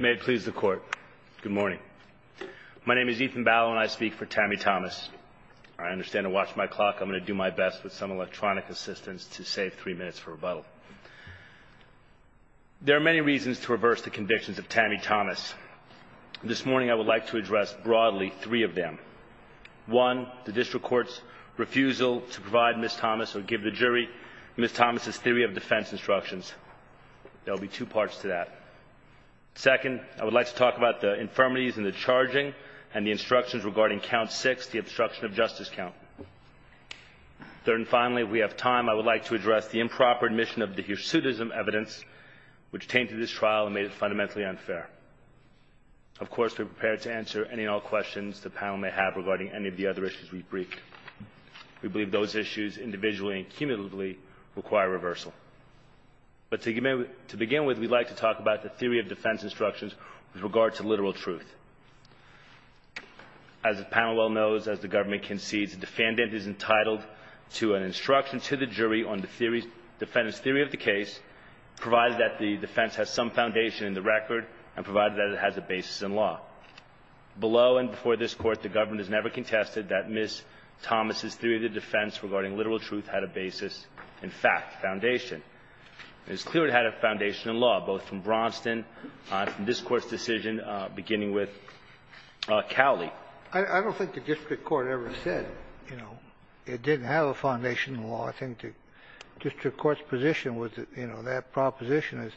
May it please the court. Good morning. My name is Ethan Bauer and I speak for Tammy Thomas. I understand to watch my clock. I'm going to do my best with some electronic assistance to save three minutes for rebuttal. There are many reasons to reverse the convictions of Tammy Thomas. This morning I would like to address broadly three of them. One, the district court's refusal to provide Ms. Thomas or give the jury Ms. Thomas's theory of defense instructions. There will be two parts to that. Second, I would like to talk about the infirmities and the charging and the instructions regarding count six, the obstruction of justice count. Third and finally, if we have time, I would like to address the improper admission of the hirsutism evidence, which came to this trial and made it fundamentally unfair. Of course, we're prepared to answer any and all questions the panel may have regarding any of the other issues we've briefed. We believe those issues individually and cumulatively require reversal. But to begin with, we'd like to talk about the theory of defense instructions with regard to literal truth. As the panel well knows, as the government concedes, the defendant is entitled to an instruction to the jury on the defendant's theory of the case, provided that the defense has some foundation in the record and provided that it has a basis in law. Below and before this Court, the government has never contested that Ms. Thomas's theory of the defense regarding literal truth had a basis in fact, foundation. And it's clear it had a foundation in law, both from Braunston and from this Court's decision, beginning with Cowley. I don't think the district court ever said, you know, it didn't have a foundation in law. I think the district court's position was, you know, that proposition is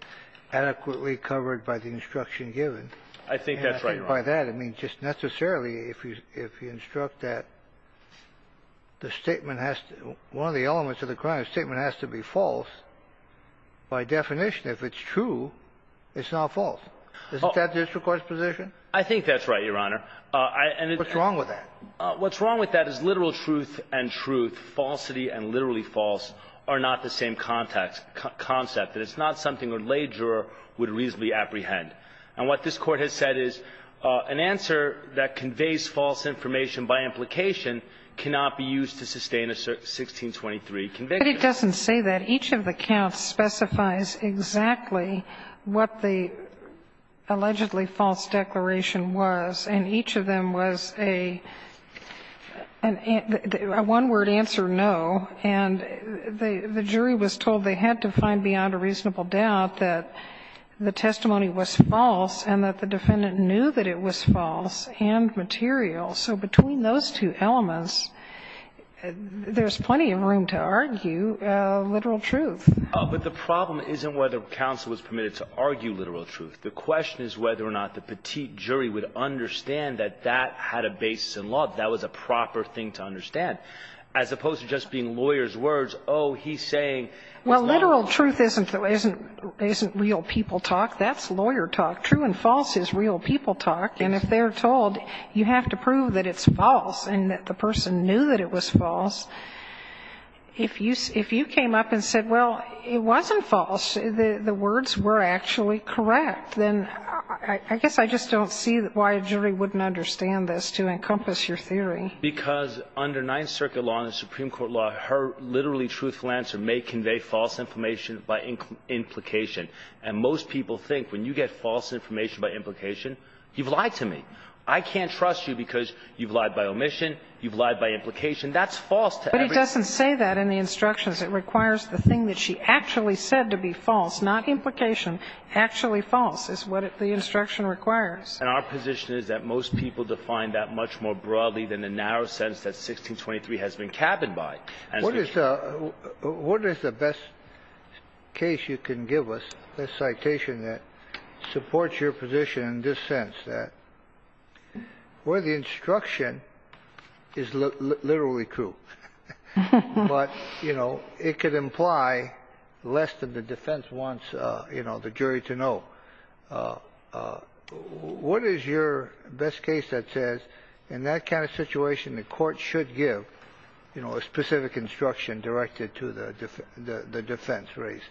adequately I think that's right, Your Honor. I mean, just necessarily, if you instruct that the statement has to be false, by definition, if it's true, it's not false. Isn't that the district court's position? I think that's right, Your Honor. What's wrong with that? What's wrong with that is literal truth and truth, falsity and literally false, are not the same concept. And it's not something a lay juror would reasonably apprehend. And what this Court has said is an answer that conveys false information by implication cannot be used to sustain a 1623 conviction. But it doesn't say that. Each of the counts specifies exactly what the allegedly false declaration was, and each of them was a one-word answer, no. And the jury was told they had to find beyond a reasonable doubt that the testimony was false and that the defendant knew that it was false and material. So between those two elements, there's plenty of room to argue literal truth. But the problem isn't whether counsel was permitted to argue literal truth. The question is whether or not the petite jury would understand that that had a basis in law. That was a proper thing to understand. As opposed to just being lawyers' words, oh, he's saying it's not real. Well, literal truth isn't real people talk. That's lawyer talk. True and false is real people talk. And if they're told you have to prove that it's false and that the person knew that it was false, if you came up and said, well, it wasn't false, the words were actually correct, then I guess I just don't see why a jury wouldn't understand this to encompass your theory. Because under Ninth Circuit law and the Supreme Court law, her literally truthful answer may convey false information by implication. And most people think when you get false information by implication, you've lied to me. I can't trust you because you've lied by omission, you've lied by implication. That's false to everybody. But he doesn't say that in the instructions. It requires the thing that she actually said to be false, not implication, actually false is what the instruction requires. And our position is that most people define that much more broadly than the narrow sentence that 1623 has been cabined by. What is the best case you can give us, a citation that supports your position in this sense, that where the instruction is literally true, but it could imply less than the defense wants the jury to know. What is your best case that says in that kind of situation the court should give a specific instruction directed to the defense race?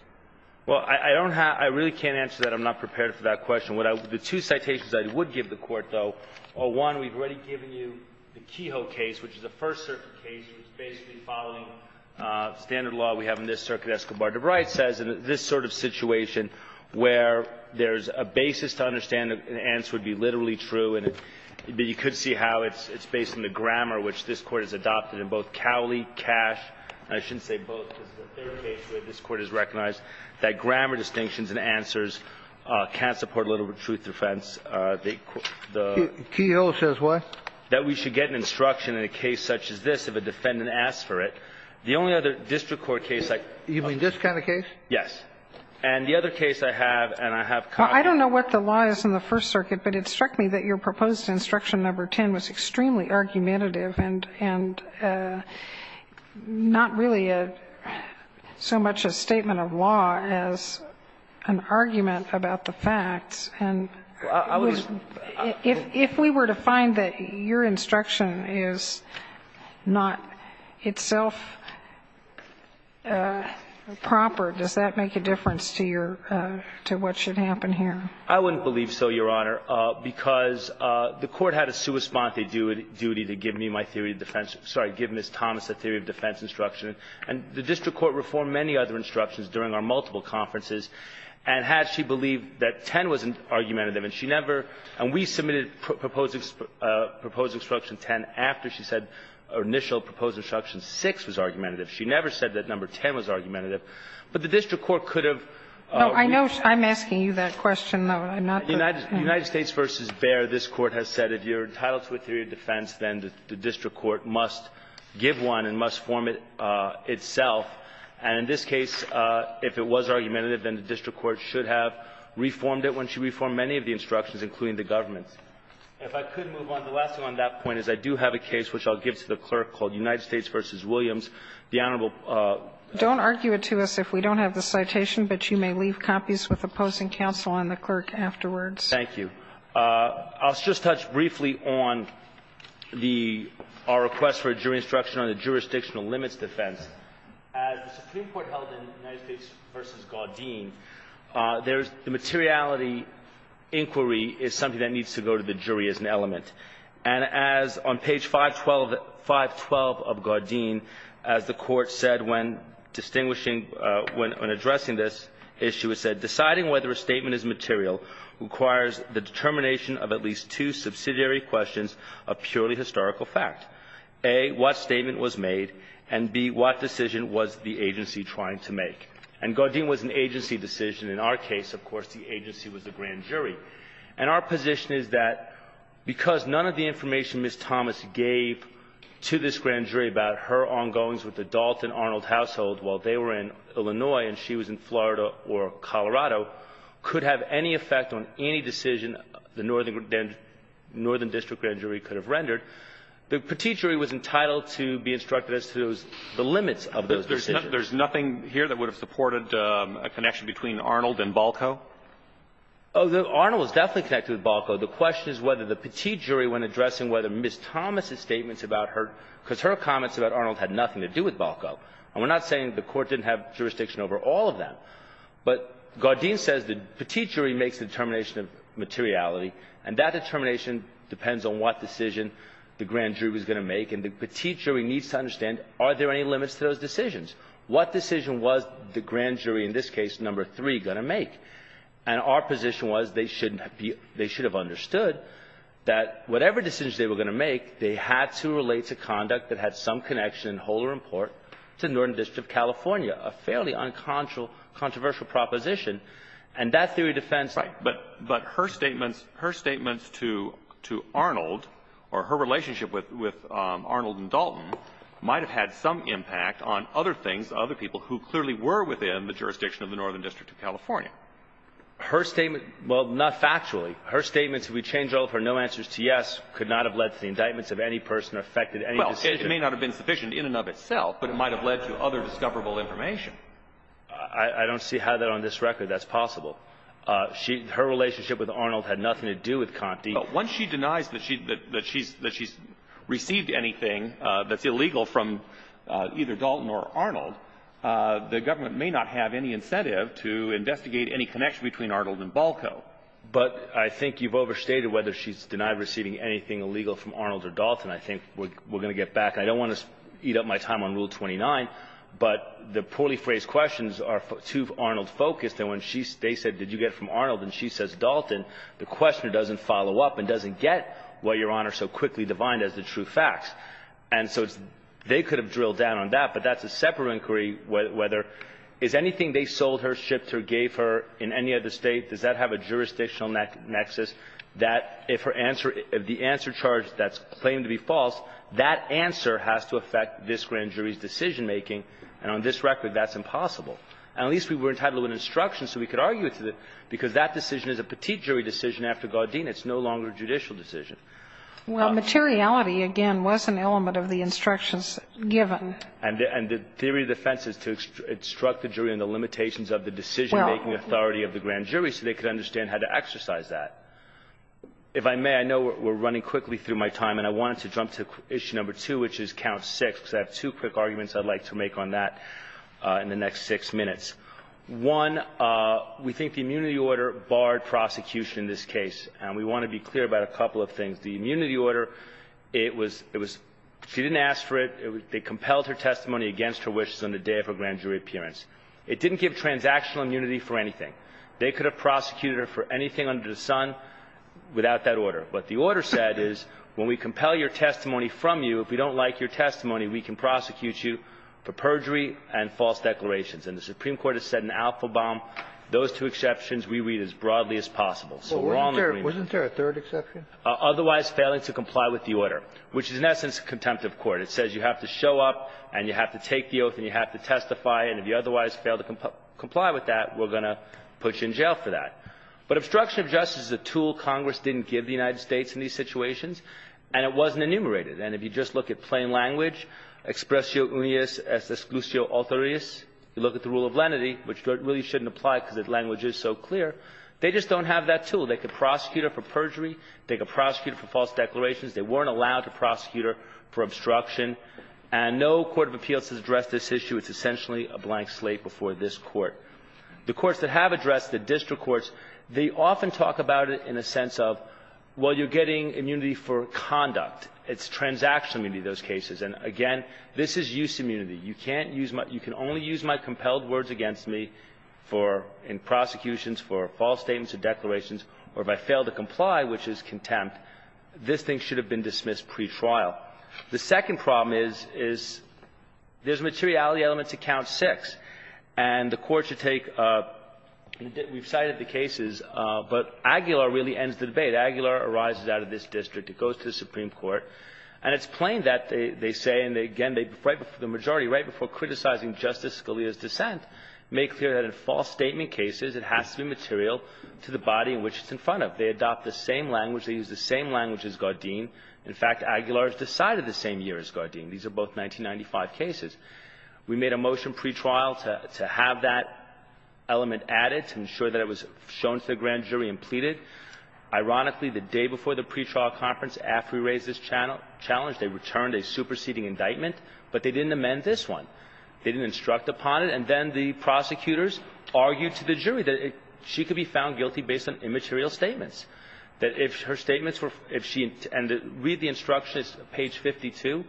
Well, I don't have – I really can't answer that. I'm not prepared for that question. The two citations I would give the Court, though, are, one, we've already given you the Kehoe case, which is a First Circuit case, which is basically following standard law we have in this circuit. Escobar-Dubris says in this sort of situation where there's a basis to understand that the answer would be literally true, but you could see how it's based on the grammar which this Court has adopted in both Cowley, Cash, and I shouldn't say both, this is the third case where this Court has recognized that grammar distinctions and answers can't support a little bit of truth defense. Kehoe says what? That we should get an instruction in a case such as this if a defendant asks for it. The only other district court case I – You mean this kind of case? Yes. And the other case I have, and I have – Well, I don't know what the law is in the First Circuit, but it struck me that your proposed instruction number 10 was extremely argumentative and not really so much a statement of law as an argument about the facts, and if we were to find that your instruction is not itself proper, does that make a difference to your – to what should happen here? I wouldn't believe so, Your Honor. Because the Court had a sua sponte duty to give me my theory of defense – sorry, give Ms. Thomas a theory of defense instruction, and the district court reformed many other instructions during our multiple conferences, and had she believed that 10 was argumentative, and she never – and we submitted proposed instruction 10 after she said – or initial proposed instruction 6 was argumentative. She never said that number 10 was argumentative, but the district court could have – No, I know I'm asking you that question, though, and I'm not the – United States v. Bayer, this Court has said if you're entitled to a theory of defense, then the district court must give one and must form it itself, and in this case, if it was argumentative, then the district court should have reformed it once you reformed many of the instructions, including the government's. If I could move on, the last thing on that point is I do have a case which I'll give to the clerk called United States v. Williams, the Honorable – Don't argue it to us if we don't have the citation, but you may leave copies with opposing counsel and the clerk afterwards. Thank you. I'll just touch briefly on the – our request for a jury instruction on the jurisdictional limits defense. As the Supreme Court held in United States v. Gardein, there's – the materiality inquiry is something that needs to go to the jury as an element, and as on page 512 of Gardein, as the Court said when distinguishing – when addressing this issue, it said deciding whether a statement is material requires the determination of at least two subsidiary questions of purely historical fact, A, what statement was made, and B, what decision was the agency trying to make. And Gardein was an agency decision. In our case, of course, the agency was the grand jury. And our position is that because none of the information Ms. Thomas gave to this grand jury about her ongoings with the Dalton Arnold household while they were in Colorado could have any effect on any decision the northern district grand jury could have rendered, the Petit jury was entitled to be instructed as to the limits of those decisions. There's nothing here that would have supported a connection between Arnold and Balco? Oh, Arnold was definitely connected with Balco. The question is whether the Petit jury, when addressing whether Ms. Thomas' statements about her – because her comments about Arnold had nothing to do with Balco. And we're not saying the Court didn't have jurisdiction over all of them. But Gardein says the Petit jury makes the determination of materiality, and that determination depends on what decision the grand jury was going to make. And the Petit jury needs to understand, are there any limits to those decisions? What decision was the grand jury in this case, number three, going to make? And our position was they shouldn't be – they should have understood that whatever decisions they were going to make, they had to relate to conduct that had some connection in whole or in part to the Northern District of California, a fairly uncontroversial proposition. And that theory defends the – Right. But her statements – her statements to Arnold or her relationship with Arnold and Dalton might have had some impact on other things, other people who clearly were within the jurisdiction of the Northern District of California. Her statement – well, not factually. Her statements, if we change all of her, no answers to yes, could not have led to the indictments of any person or affected any decision. It may not have been sufficient in and of itself, but it might have led to other discoverable information. I don't see how that on this record that's possible. She – her relationship with Arnold had nothing to do with Conti. Once she denies that she – that she's – that she's received anything that's illegal from either Dalton or Arnold, the government may not have any incentive to investigate any connection between Arnold and Balco. But I think you've overstated whether she's denied receiving anything illegal from Arnold or Dalton. I think we're going to get back. I don't want to eat up my time on Rule 29, but the poorly phrased questions are too Arnold-focused. And when she – they said, did you get from Arnold, and she says Dalton, the questioner doesn't follow up and doesn't get why Your Honor so quickly divined as the true facts. And so it's – they could have drilled down on that, but that's a separate inquiry whether – is anything they sold her, shipped her, gave her in any other State, does that have a jurisdictional nexus that if her answer – if the answer is a charge that's claimed to be false, that answer has to affect this grand jury's decision-making. And on this record, that's impossible. And at least we were entitled to an instruction so we could argue it because that decision is a petite jury decision after Gardena. It's no longer a judicial decision. Well, materiality, again, was an element of the instructions given. And the theory of defense is to instruct the jury on the limitations of the decision-making authority of the grand jury so they could understand how to exercise that. If I may, I know we're running quickly through my time, and I wanted to jump to issue number two, which is count six, because I have two quick arguments I'd like to make on that in the next six minutes. One, we think the immunity order barred prosecution in this case. And we want to be clear about a couple of things. The immunity order, it was – it was – she didn't ask for it. They compelled her testimony against her wishes on the day of her grand jury appearance. It didn't give transactional immunity for anything. They could have prosecuted her for anything under the sun without that order. What the order said is when we compel your testimony from you, if we don't like your testimony, we can prosecute you for perjury and false declarations. And the Supreme Court has set an alpha bomb. Those two exceptions we read as broadly as possible. So we're all in agreement. Wasn't there a third exception? Otherwise failing to comply with the order, which is in essence a contempt of court. It says you have to show up and you have to take the oath and you have to testify, and if you otherwise fail to comply with that, we're going to put you in jail for that. But obstruction of justice is a tool Congress didn't give the United States in these situations, and it wasn't enumerated. And if you just look at plain language, expressio unius exclusio authoris, you look at the rule of lenity, which really shouldn't apply because the language is so clear, they just don't have that tool. They could prosecute her for perjury. They could prosecute her for false declarations. They weren't allowed to prosecute her for obstruction. And no court of appeals has addressed this issue. It's essentially a blank slate before this Court. The courts that have addressed it, district courts, they often talk about it in a sense of, well, you're getting immunity for conduct. It's transactional immunity in those cases. And again, this is use immunity. You can't use my – you can only use my compelled words against me for – in prosecutions, for false statements or declarations, or if I fail to comply, which is contempt, this thing should have been dismissed pretrial. The second problem is, is there's a materiality element to count six. And the Court should take – we've cited the cases, but Aguilar really ends the debate. Aguilar arises out of this district. It goes to the Supreme Court. And it's plain that they say, and again, right before the majority, right before criticizing Justice Scalia's dissent, make clear that in false statement cases, it has to be material to the body in which it's in front of. They adopt the same language. They use the same language as Gardein. In fact, Aguilar has decided the same year as Gardein. These are both 1995 cases. We made a motion pretrial to have that element added to ensure that it was shown to the grand jury and pleaded. Ironically, the day before the pretrial conference, after we raised this challenge, they returned a superseding indictment, but they didn't amend this one. They didn't instruct upon it. And then the prosecutors argued to the jury that she could be found guilty based on immaterial statements. That if her statements were – if she – and read the instruction. It's page 52.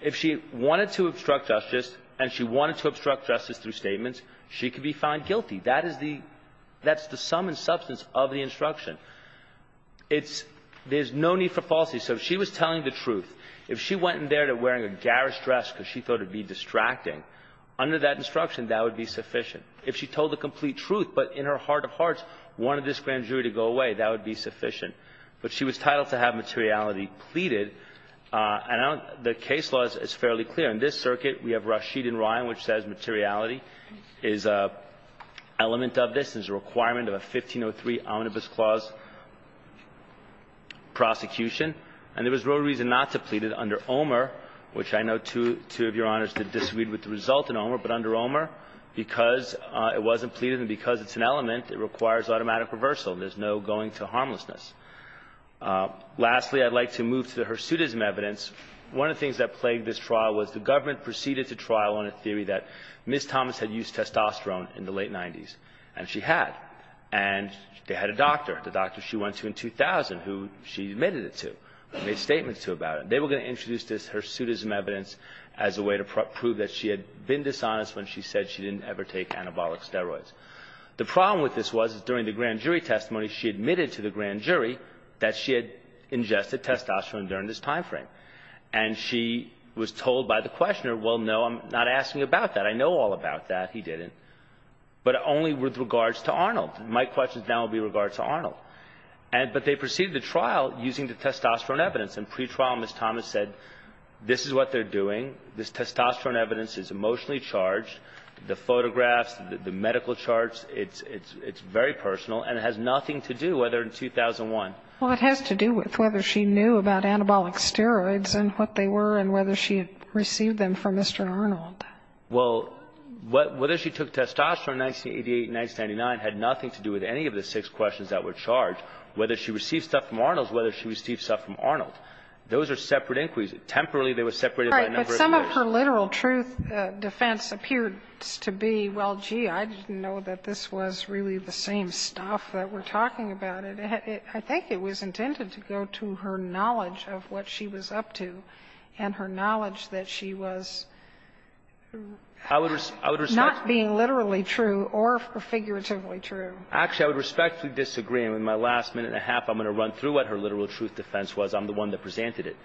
If she wanted to obstruct justice, and she wanted to obstruct justice through statements, she could be found guilty. That is the – that's the sum and substance of the instruction. It's – there's no need for falsity. So if she was telling the truth, if she went in there wearing a garish dress because she thought it would be distracting, under that instruction, that would be sufficient. And if she wanted the jury to go away, that would be sufficient. But she was titled to have materiality pleaded. And I don't – the case law is fairly clear. In this circuit, we have Rashid and Ryan, which says materiality is an element of this, is a requirement of a 1503 Omnibus Clause prosecution. And there was real reason not to plead it under Omer, which I know two of your Honors disagreed with the result in Omer. But under Omer, because it wasn't pleaded and because it's an element, it requires automatic reversal. There's no going to harmlessness. Lastly, I'd like to move to the hirsutism evidence. One of the things that plagued this trial was the government proceeded to trial on a theory that Ms. Thomas had used testosterone in the late 90s. And she had. And they had a doctor, the doctor she went to in 2000, who she admitted it to, made statements to about it. They were going to introduce this hirsutism evidence as a way to prove that she had been dishonest when she said she didn't ever take anabolic steroids. The problem with this was, during the grand jury testimony, she admitted to the grand jury that she had ingested testosterone during this time frame. And she was told by the questioner, well, no, I'm not asking about that. I know all about that. He didn't. But only with regards to Arnold. My questions now will be with regards to Arnold. But they proceeded the trial using the testosterone evidence. And pretrial, Ms. Thomas said, this is what they're doing. This testosterone evidence is emotionally charged. The photographs, the medical charts, it's very personal. And it has nothing to do whether in 2001. Well, it has to do with whether she knew about anabolic steroids and what they were and whether she had received them from Mr. Arnold. Well, whether she took testosterone in 1988 and 1999 had nothing to do with any of the six questions that were charged. Whether she received stuff from Arnold is whether she received stuff from Arnold. Those are separate inquiries. Temporarily, they were separated by a number of years. Well, some of her literal truth defense appeared to be, well, gee, I didn't know that this was really the same stuff that we're talking about. I think it was intended to go to her knowledge of what she was up to and her knowledge that she was not being literally true or figuratively true. Actually, I would respectfully disagree. In my last minute and a half, I'm going to run through what her literal truth defense I'm the one that presented it.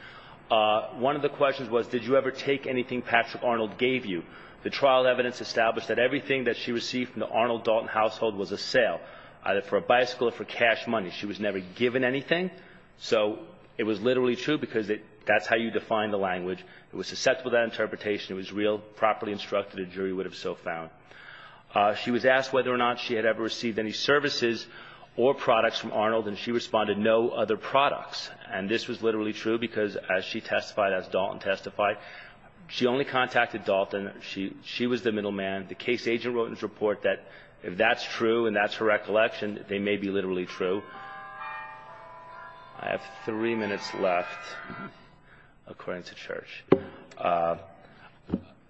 One of the questions was, did you ever take anything Patrick Arnold gave you? The trial evidence established that everything that she received from the Arnold Dalton household was a sale, either for a bicycle or for cash money. She was never given anything. So it was literally true because that's how you define the language. It was susceptible to that interpretation. It was real, properly instructed. A jury would have so found. She was asked whether or not she had ever received any services or products from Arnold, and she responded, no other products. And this was literally true because, as she testified, as Dalton testified, she only contacted Dalton. She was the middleman. The case agent wrote in his report that if that's true and that's her recollection, they may be literally true. I have three minutes left, according to Church.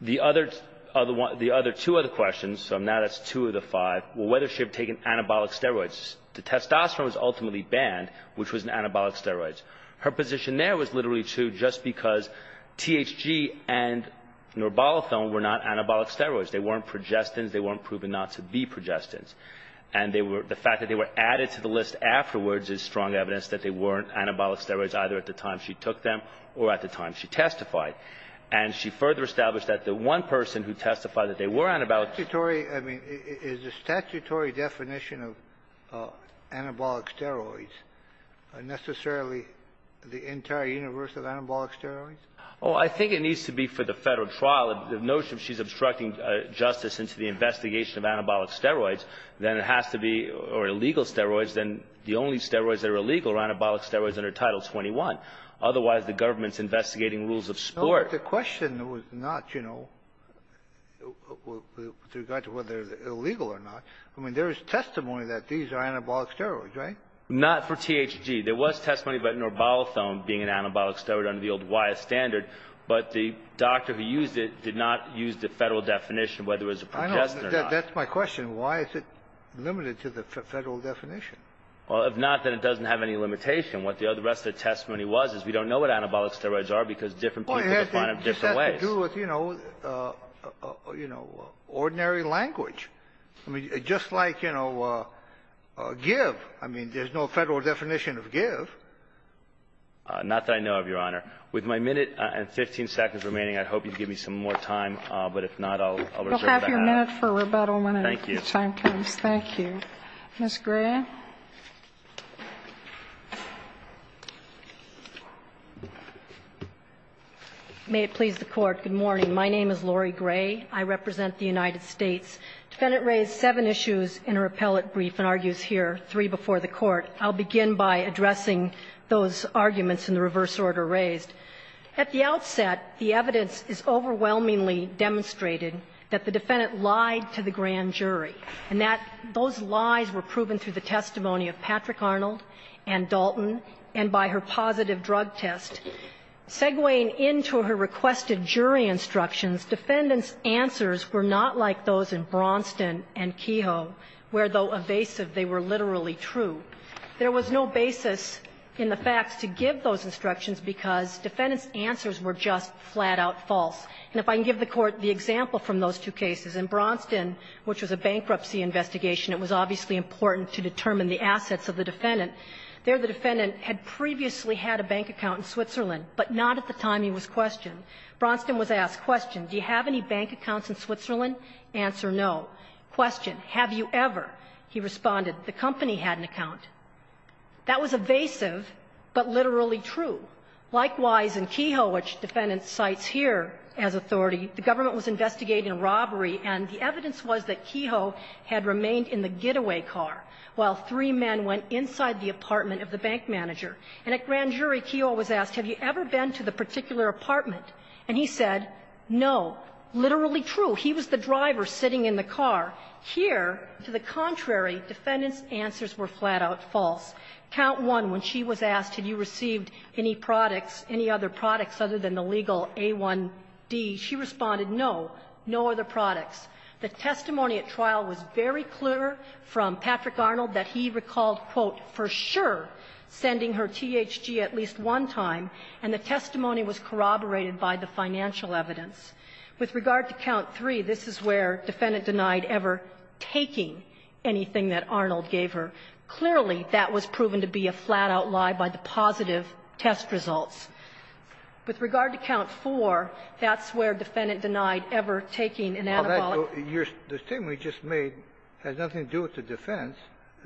The other two other questions, so now that's two of the five, whether she had taken anabolic steroids. The testosterone was ultimately banned, which was an anabolic steroid. Her position there was literally true just because THG and Norbolithone were not anabolic steroids. They weren't progestins. They weren't proven not to be progestins. And they were the fact that they were added to the list afterwards is strong evidence that they weren't anabolic steroids either at the time she took them or at the time she testified. And she further established that the one person who testified that they were anabolic Is the statutory definition of anabolic steroids necessarily the entire universe of anabolic steroids? Oh, I think it needs to be for the Federal trial. The notion she's obstructing justice into the investigation of anabolic steroids, then it has to be, or illegal steroids, then the only steroids that are illegal are anabolic steroids under Title 21. Otherwise, the government's investigating rules of sport. But the question was not, you know, with regard to whether they're illegal or not. I mean, there is testimony that these are anabolic steroids, right? Not for THG. There was testimony about Norbolithone being an anabolic steroid under the old WIA standard. But the doctor who used it did not use the Federal definition of whether it was a progestin or not. That's my question. Why is it limited to the Federal definition? Well, if not, then it doesn't have any limitation. What the rest of the testimony was is we don't know what anabolic steroids are because different people define them different ways. It just has to do with, you know, ordinary language. I mean, just like, you know, give. I mean, there's no Federal definition of give. Not that I know of, Your Honor. With my minute and 15 seconds remaining, I'd hope you'd give me some more time. But if not, I'll reserve that. We'll have your minute for rebuttal when the time comes. Thank you. Thank you. Ms. Graham. May it please the Court. Good morning. My name is Lori Gray. I represent the United States. The Defendant raised seven issues in her appellate brief and argues here three before the Court. I'll begin by addressing those arguments in the reverse order raised. At the outset, the evidence is overwhelmingly demonstrated that the Defendant lied to the grand jury. And that those lies were proven through the testimony of Patrick Arnold and Dalton and by her positive drug test. Segueing into her requested jury instructions, Defendant's answers were not like those in Braunston and Kehoe, where though evasive, they were literally true. There was no basis in the facts to give those instructions because Defendant's answers were just flat-out false. And if I can give the Court the example from those two cases. In Braunston, which was a bankruptcy investigation, it was obviously important to determine the assets of the Defendant. There, the Defendant had previously had a bank account in Switzerland, but not at the time he was questioned. Braunston was asked, question, do you have any bank accounts in Switzerland? Answer, no. Question, have you ever? He responded, the company had an account. That was evasive, but literally true. Likewise, in Kehoe, which Defendant cites here as authority, the government was investigating a robbery, and the evidence was that Kehoe had remained in the getaway car while three men went inside the apartment of the bank manager. And at grand jury, Kehoe was asked, have you ever been to the particular apartment? And he said, no. Literally true. He was the driver sitting in the car. Here, to the contrary, Defendant's answers were flat-out false. Count one, when she was asked, have you received any products, any other products other than the legal A1D, she responded, no, no other products. The testimony at trial was very clear from Patrick Arnold that he recalled, quote, for sure, sending her THG at least one time, and the testimony was corroborated by the financial evidence. With regard to count three, this is where Defendant denied ever taking anything that Arnold gave her. Clearly, that was proven to be a flat-out lie by the positive test results. With regard to count four, that's where Defendant denied ever taking an antibiotic. Your statement you just made has nothing to do with the defense.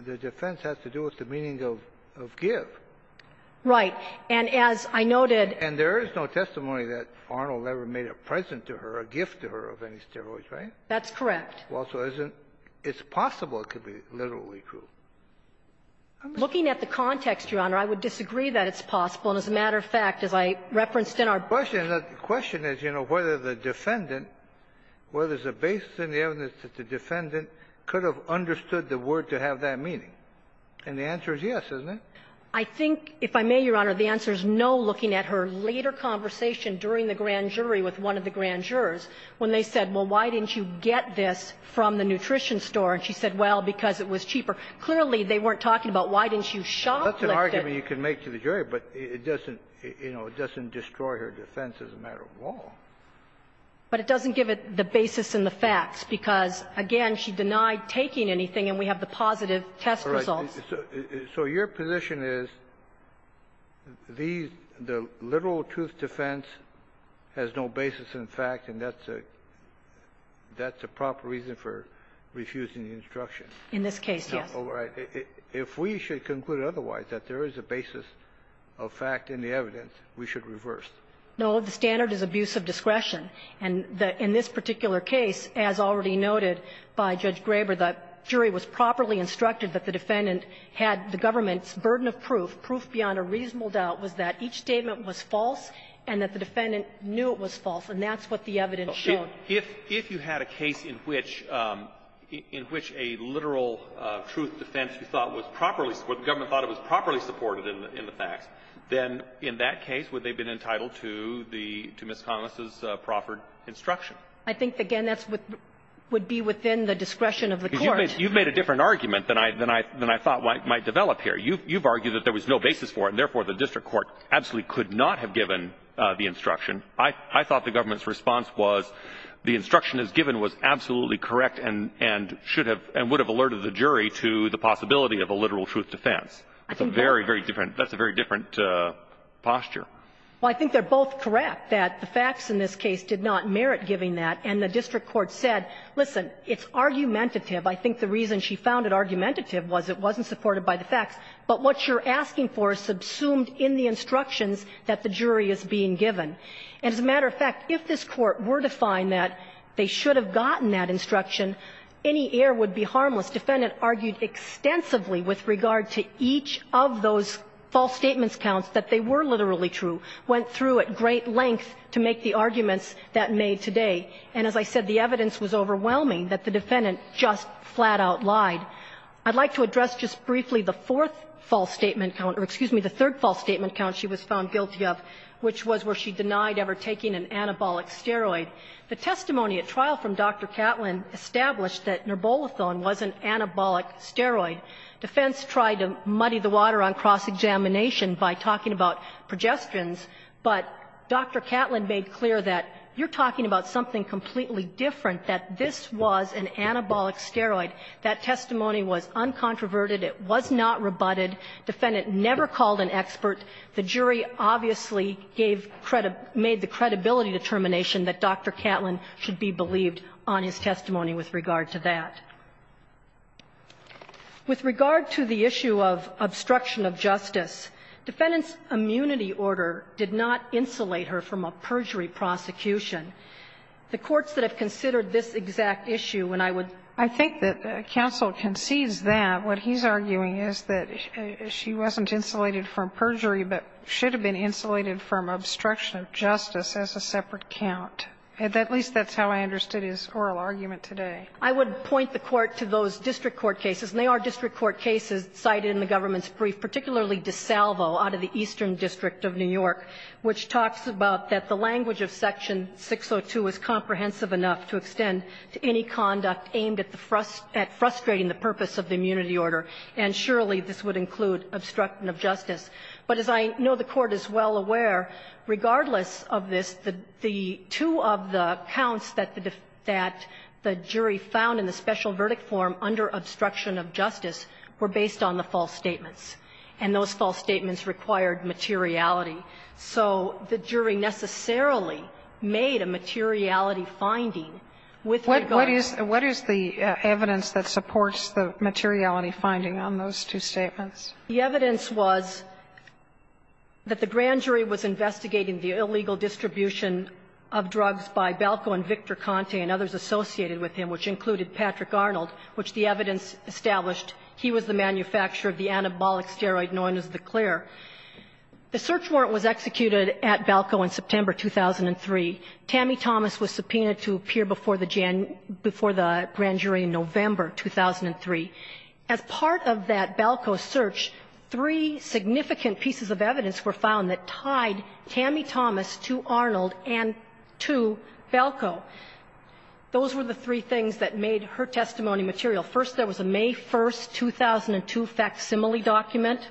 The defense has to do with the meaning of give. Right. And as I noted – And there is no testimony that Arnold ever made a present to her, a gift to her of any steroids, right? That's correct. Well, so isn't it possible it could be literally true? Looking at the context, Your Honor, I would disagree that it's possible. And as a matter of fact, as I referenced in our – The question is, you know, whether the Defendant, whether there's a basis in the evidence that the Defendant could have understood the word to have that meaning. And the answer is yes, isn't it? I think, if I may, Your Honor, the answer is no, looking at her later conversation during the grand jury with one of the grand jurors, when they said, well, why didn't you get this from the nutrition store? And she said, well, because it was cheaper. Clearly, they weren't talking about why didn't you shoplift it. That's an argument you can make to the jury, but it doesn't, you know, it doesn't destroy her defense as a matter of law. But it doesn't give it the basis in the facts, because, again, she denied taking anything, and we have the positive test results. So your position is these – the literal truth defense has no basis in fact, and that's a – that's a proper reason for refusing the instruction. In this case, yes. If we should conclude otherwise, that there is a basis of fact in the evidence, we should reverse. No. The standard is abuse of discretion. And in this particular case, as already noted by Judge Graber, the jury was properly instructed that the defendant had the government's burden of proof. Proof beyond a reasonable doubt was that each statement was false and that the defendant knew it was false, and that's what the evidence showed. If you had a case in which – in which a literal truth defense you thought was properly – where the government thought it was properly supported in the facts, then in that case, would they have been entitled to the – to Ms. Connell's proffered instruction? I think, again, that's what would be within the discretion of the court. You've made a different argument than I thought might develop here. You've argued that there was no basis for it, and therefore the district court absolutely could not have given the instruction. I thought the government's response was the instruction as given was absolutely correct and should have – and would have alerted the jury to the possibility of a literal truth defense. That's a very, very different – that's a very different posture. Well, I think they're both correct, that the facts in this case did not merit giving that, and the district court said, listen, it's argumentative. I think the reason she found it argumentative was it wasn't supported by the facts. But what you're asking for is subsumed in the instructions that the jury is being given. And as a matter of fact, if this Court were to find that they should have gotten that instruction, any error would be harmless. Defendant argued extensively with regard to each of those false statements counts that they were literally true, went through at great length to make the arguments that made today. And as I said, the evidence was overwhelming that the defendant just flat-out lied. I'd like to address just briefly the fourth false statement count – or, excuse me, the third false statement count she was found guilty of, which was where she denied ever taking an anabolic steroid. The testimony at trial from Dr. Catlin established that nirbolethone was an anabolic steroid. Defense tried to muddy the water on cross-examination by talking about progestins, but Dr. Catlin made clear that you're talking about something completely different, that this was an anabolic steroid. That testimony was uncontroverted. It was not rebutted. Defendant never called an expert. The jury obviously gave – made the credibility determination that Dr. Catlin should be believed on his testimony with regard to that. With regard to the issue of obstruction of justice, Defendant's immunity order did not insulate her from a perjury prosecution. The courts that have considered this exact issue, and I would – counsel concedes that. What he's arguing is that she wasn't insulated from perjury, but should have been insulated from obstruction of justice as a separate count. At least that's how I understood his oral argument today. I would point the Court to those district court cases, and they are district court cases cited in the government's brief, particularly DeSalvo out of the Eastern District of New York, which talks about that the language of Section 602 is comprehensive enough to extend to any conduct aimed at the – at frustrating the purpose of the immunity order, and surely this would include obstruction of justice. But as I know the Court is well aware, regardless of this, the two of the counts that the jury found in the special verdict form under obstruction of justice were based on the false statements, and those false statements required materiality. So the jury necessarily made a materiality finding with regard to the facts of the Sotomayor, what is the evidence that supports the materiality finding on those two statements? The evidence was that the grand jury was investigating the illegal distribution of drugs by Balco and Victor Conte and others associated with him, which included Patrick Arnold, which the evidence established he was the manufacturer of the anabolic steroid known as the Clare. The search warrant was executed at Balco in September 2003. Tammy Thomas was subpoenaed to appear before the grand jury in November 2003. As part of that Balco search, three significant pieces of evidence were found that tied Tammy Thomas to Arnold and to Balco. Those were the three things that made her testimony material. First, there was a May 1st, 2002 facsimile document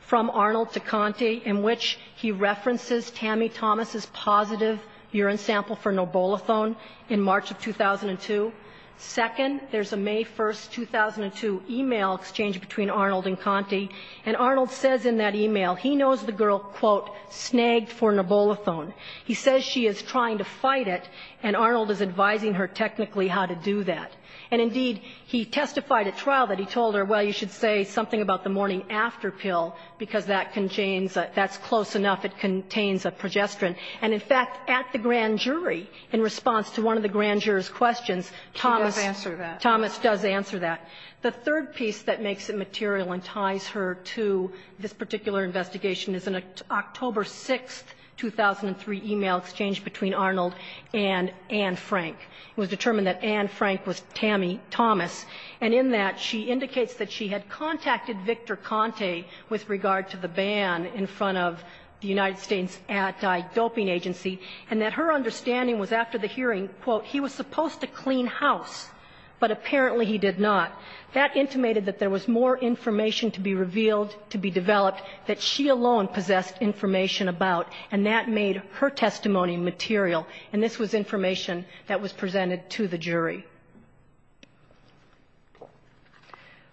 from Arnold to Conte in which he references Tammy Thomas' positive urine sample for Nobolithone in March of 2002. Second, there's a May 1st, 2002 email exchange between Arnold and Conte, and Arnold says in that email he knows the girl, quote, snagged for Nobolithone. He says she is trying to fight it, and Arnold is advising her technically how to do that. And indeed, he testified at trial that he told her, well, you should say something about the morning-after pill, because that contains a – that's close enough, it contains a progesterone. And in fact, at the grand jury, in response to one of the grand jurors' questions, Thomas – She does answer that. Thomas does answer that. The third piece that makes it material and ties her to this particular investigation is an October 6th, 2003 email exchange between Arnold and Anne Frank. It was determined that Anne Frank was Tammy Thomas, and in that, she indicates that she had contacted Victor Conte with regard to the ban in front of the United States Anti-Doping Agency, and that her understanding was after the hearing, quote, he was supposed to clean house, but apparently he did not. That intimated that there was more information to be revealed, to be developed, that she alone possessed information about, and that made her testimony material. And this was information that was presented to the jury.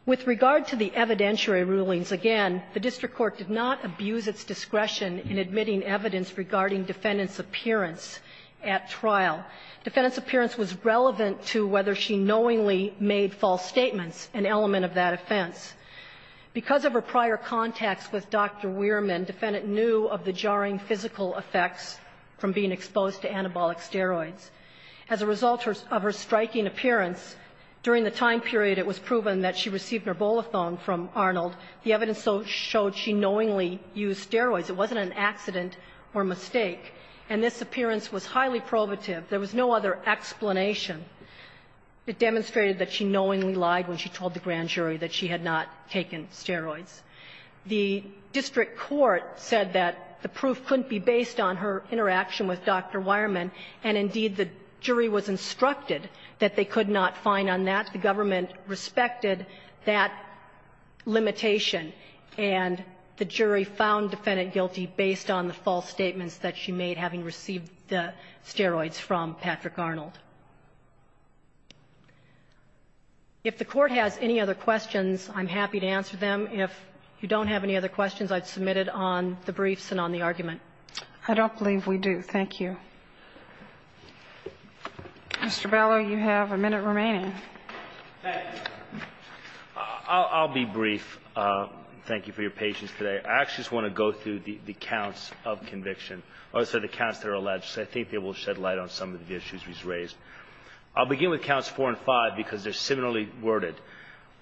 With regard to the evidentiary rulings, again, the district court did not abuse its discretion in admitting evidence regarding defendant's appearance at trial. Defendant's appearance was relevant to whether she knowingly made false statements, an element of that offense. Because of her prior contacts with Dr. Weirman, defendant knew of the jarring physical effects from being exposed to anabolic steroids. As a result of her striking appearance, during the time period it was proven that she received nerbolithone from Arnold, the evidence showed she knowingly used steroids. It wasn't an accident or mistake. And this appearance was highly probative. There was no other explanation. It demonstrated that she knowingly lied when she told the grand jury that she had not taken steroids. The district court said that the proof couldn't be based on her interaction with Dr. Weirman. And, indeed, the jury was instructed that they could not find on that. The government respected that limitation, and the jury found defendant guilty based on the false statements that she made, having received the steroids from Patrick Arnold. If the Court has any other questions, I'm happy to answer them. If you don't have any other questions, I'd submit it on the briefs and on the argument. I don't believe we do. Thank you. Mr. Bellow, you have a minute remaining. I'll be brief. Thank you for your patience today. I actually just want to go through the counts of conviction, or the counts that are alleged. I think they will shed light on some of the issues we've raised. I'll begin with counts four and five, because they're similarly worded.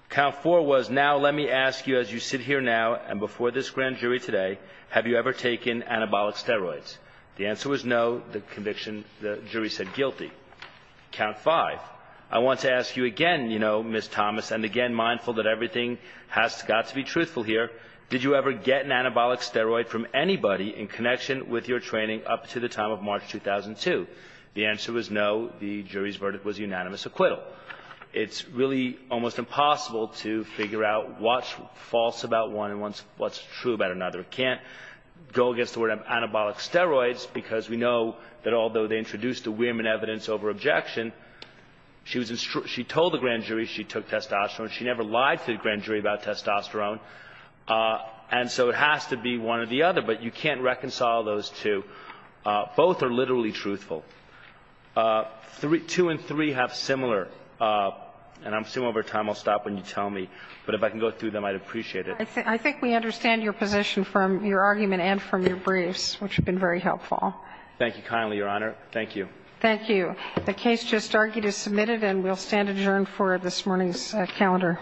Count four was, now let me ask you, as you sit here now and before this grand jury today, have you ever taken anabolic steroids? The answer was no. The conviction, the jury said guilty. Count five. I want to ask you again, you know, Ms. Thomas, and again, mindful that everything has got to be truthful here, did you ever get an anabolic steroid from anybody in connection with your training up to the time of March 2002? The answer was no. The jury's verdict was unanimous acquittal. It's really almost impossible to figure out what's false about one and what's true about another. It can't go against the word of anabolic steroids, because we know that although they introduced the women evidence over objection, she told the grand jury she took testosterone. She never lied to the grand jury about testosterone. And so it has to be one or the other, but you can't reconcile those two. Both are literally truthful. Two and three have similar, and I'm assuming over time I'll stop when you tell me, but if I can go through them, I'd appreciate it. I think we understand your position from your argument and from your briefs, which have been very helpful. Thank you kindly, Your Honor. Thank you. Thank you. The case just argued is submitted, and we'll stand adjourned for this morning's calendar.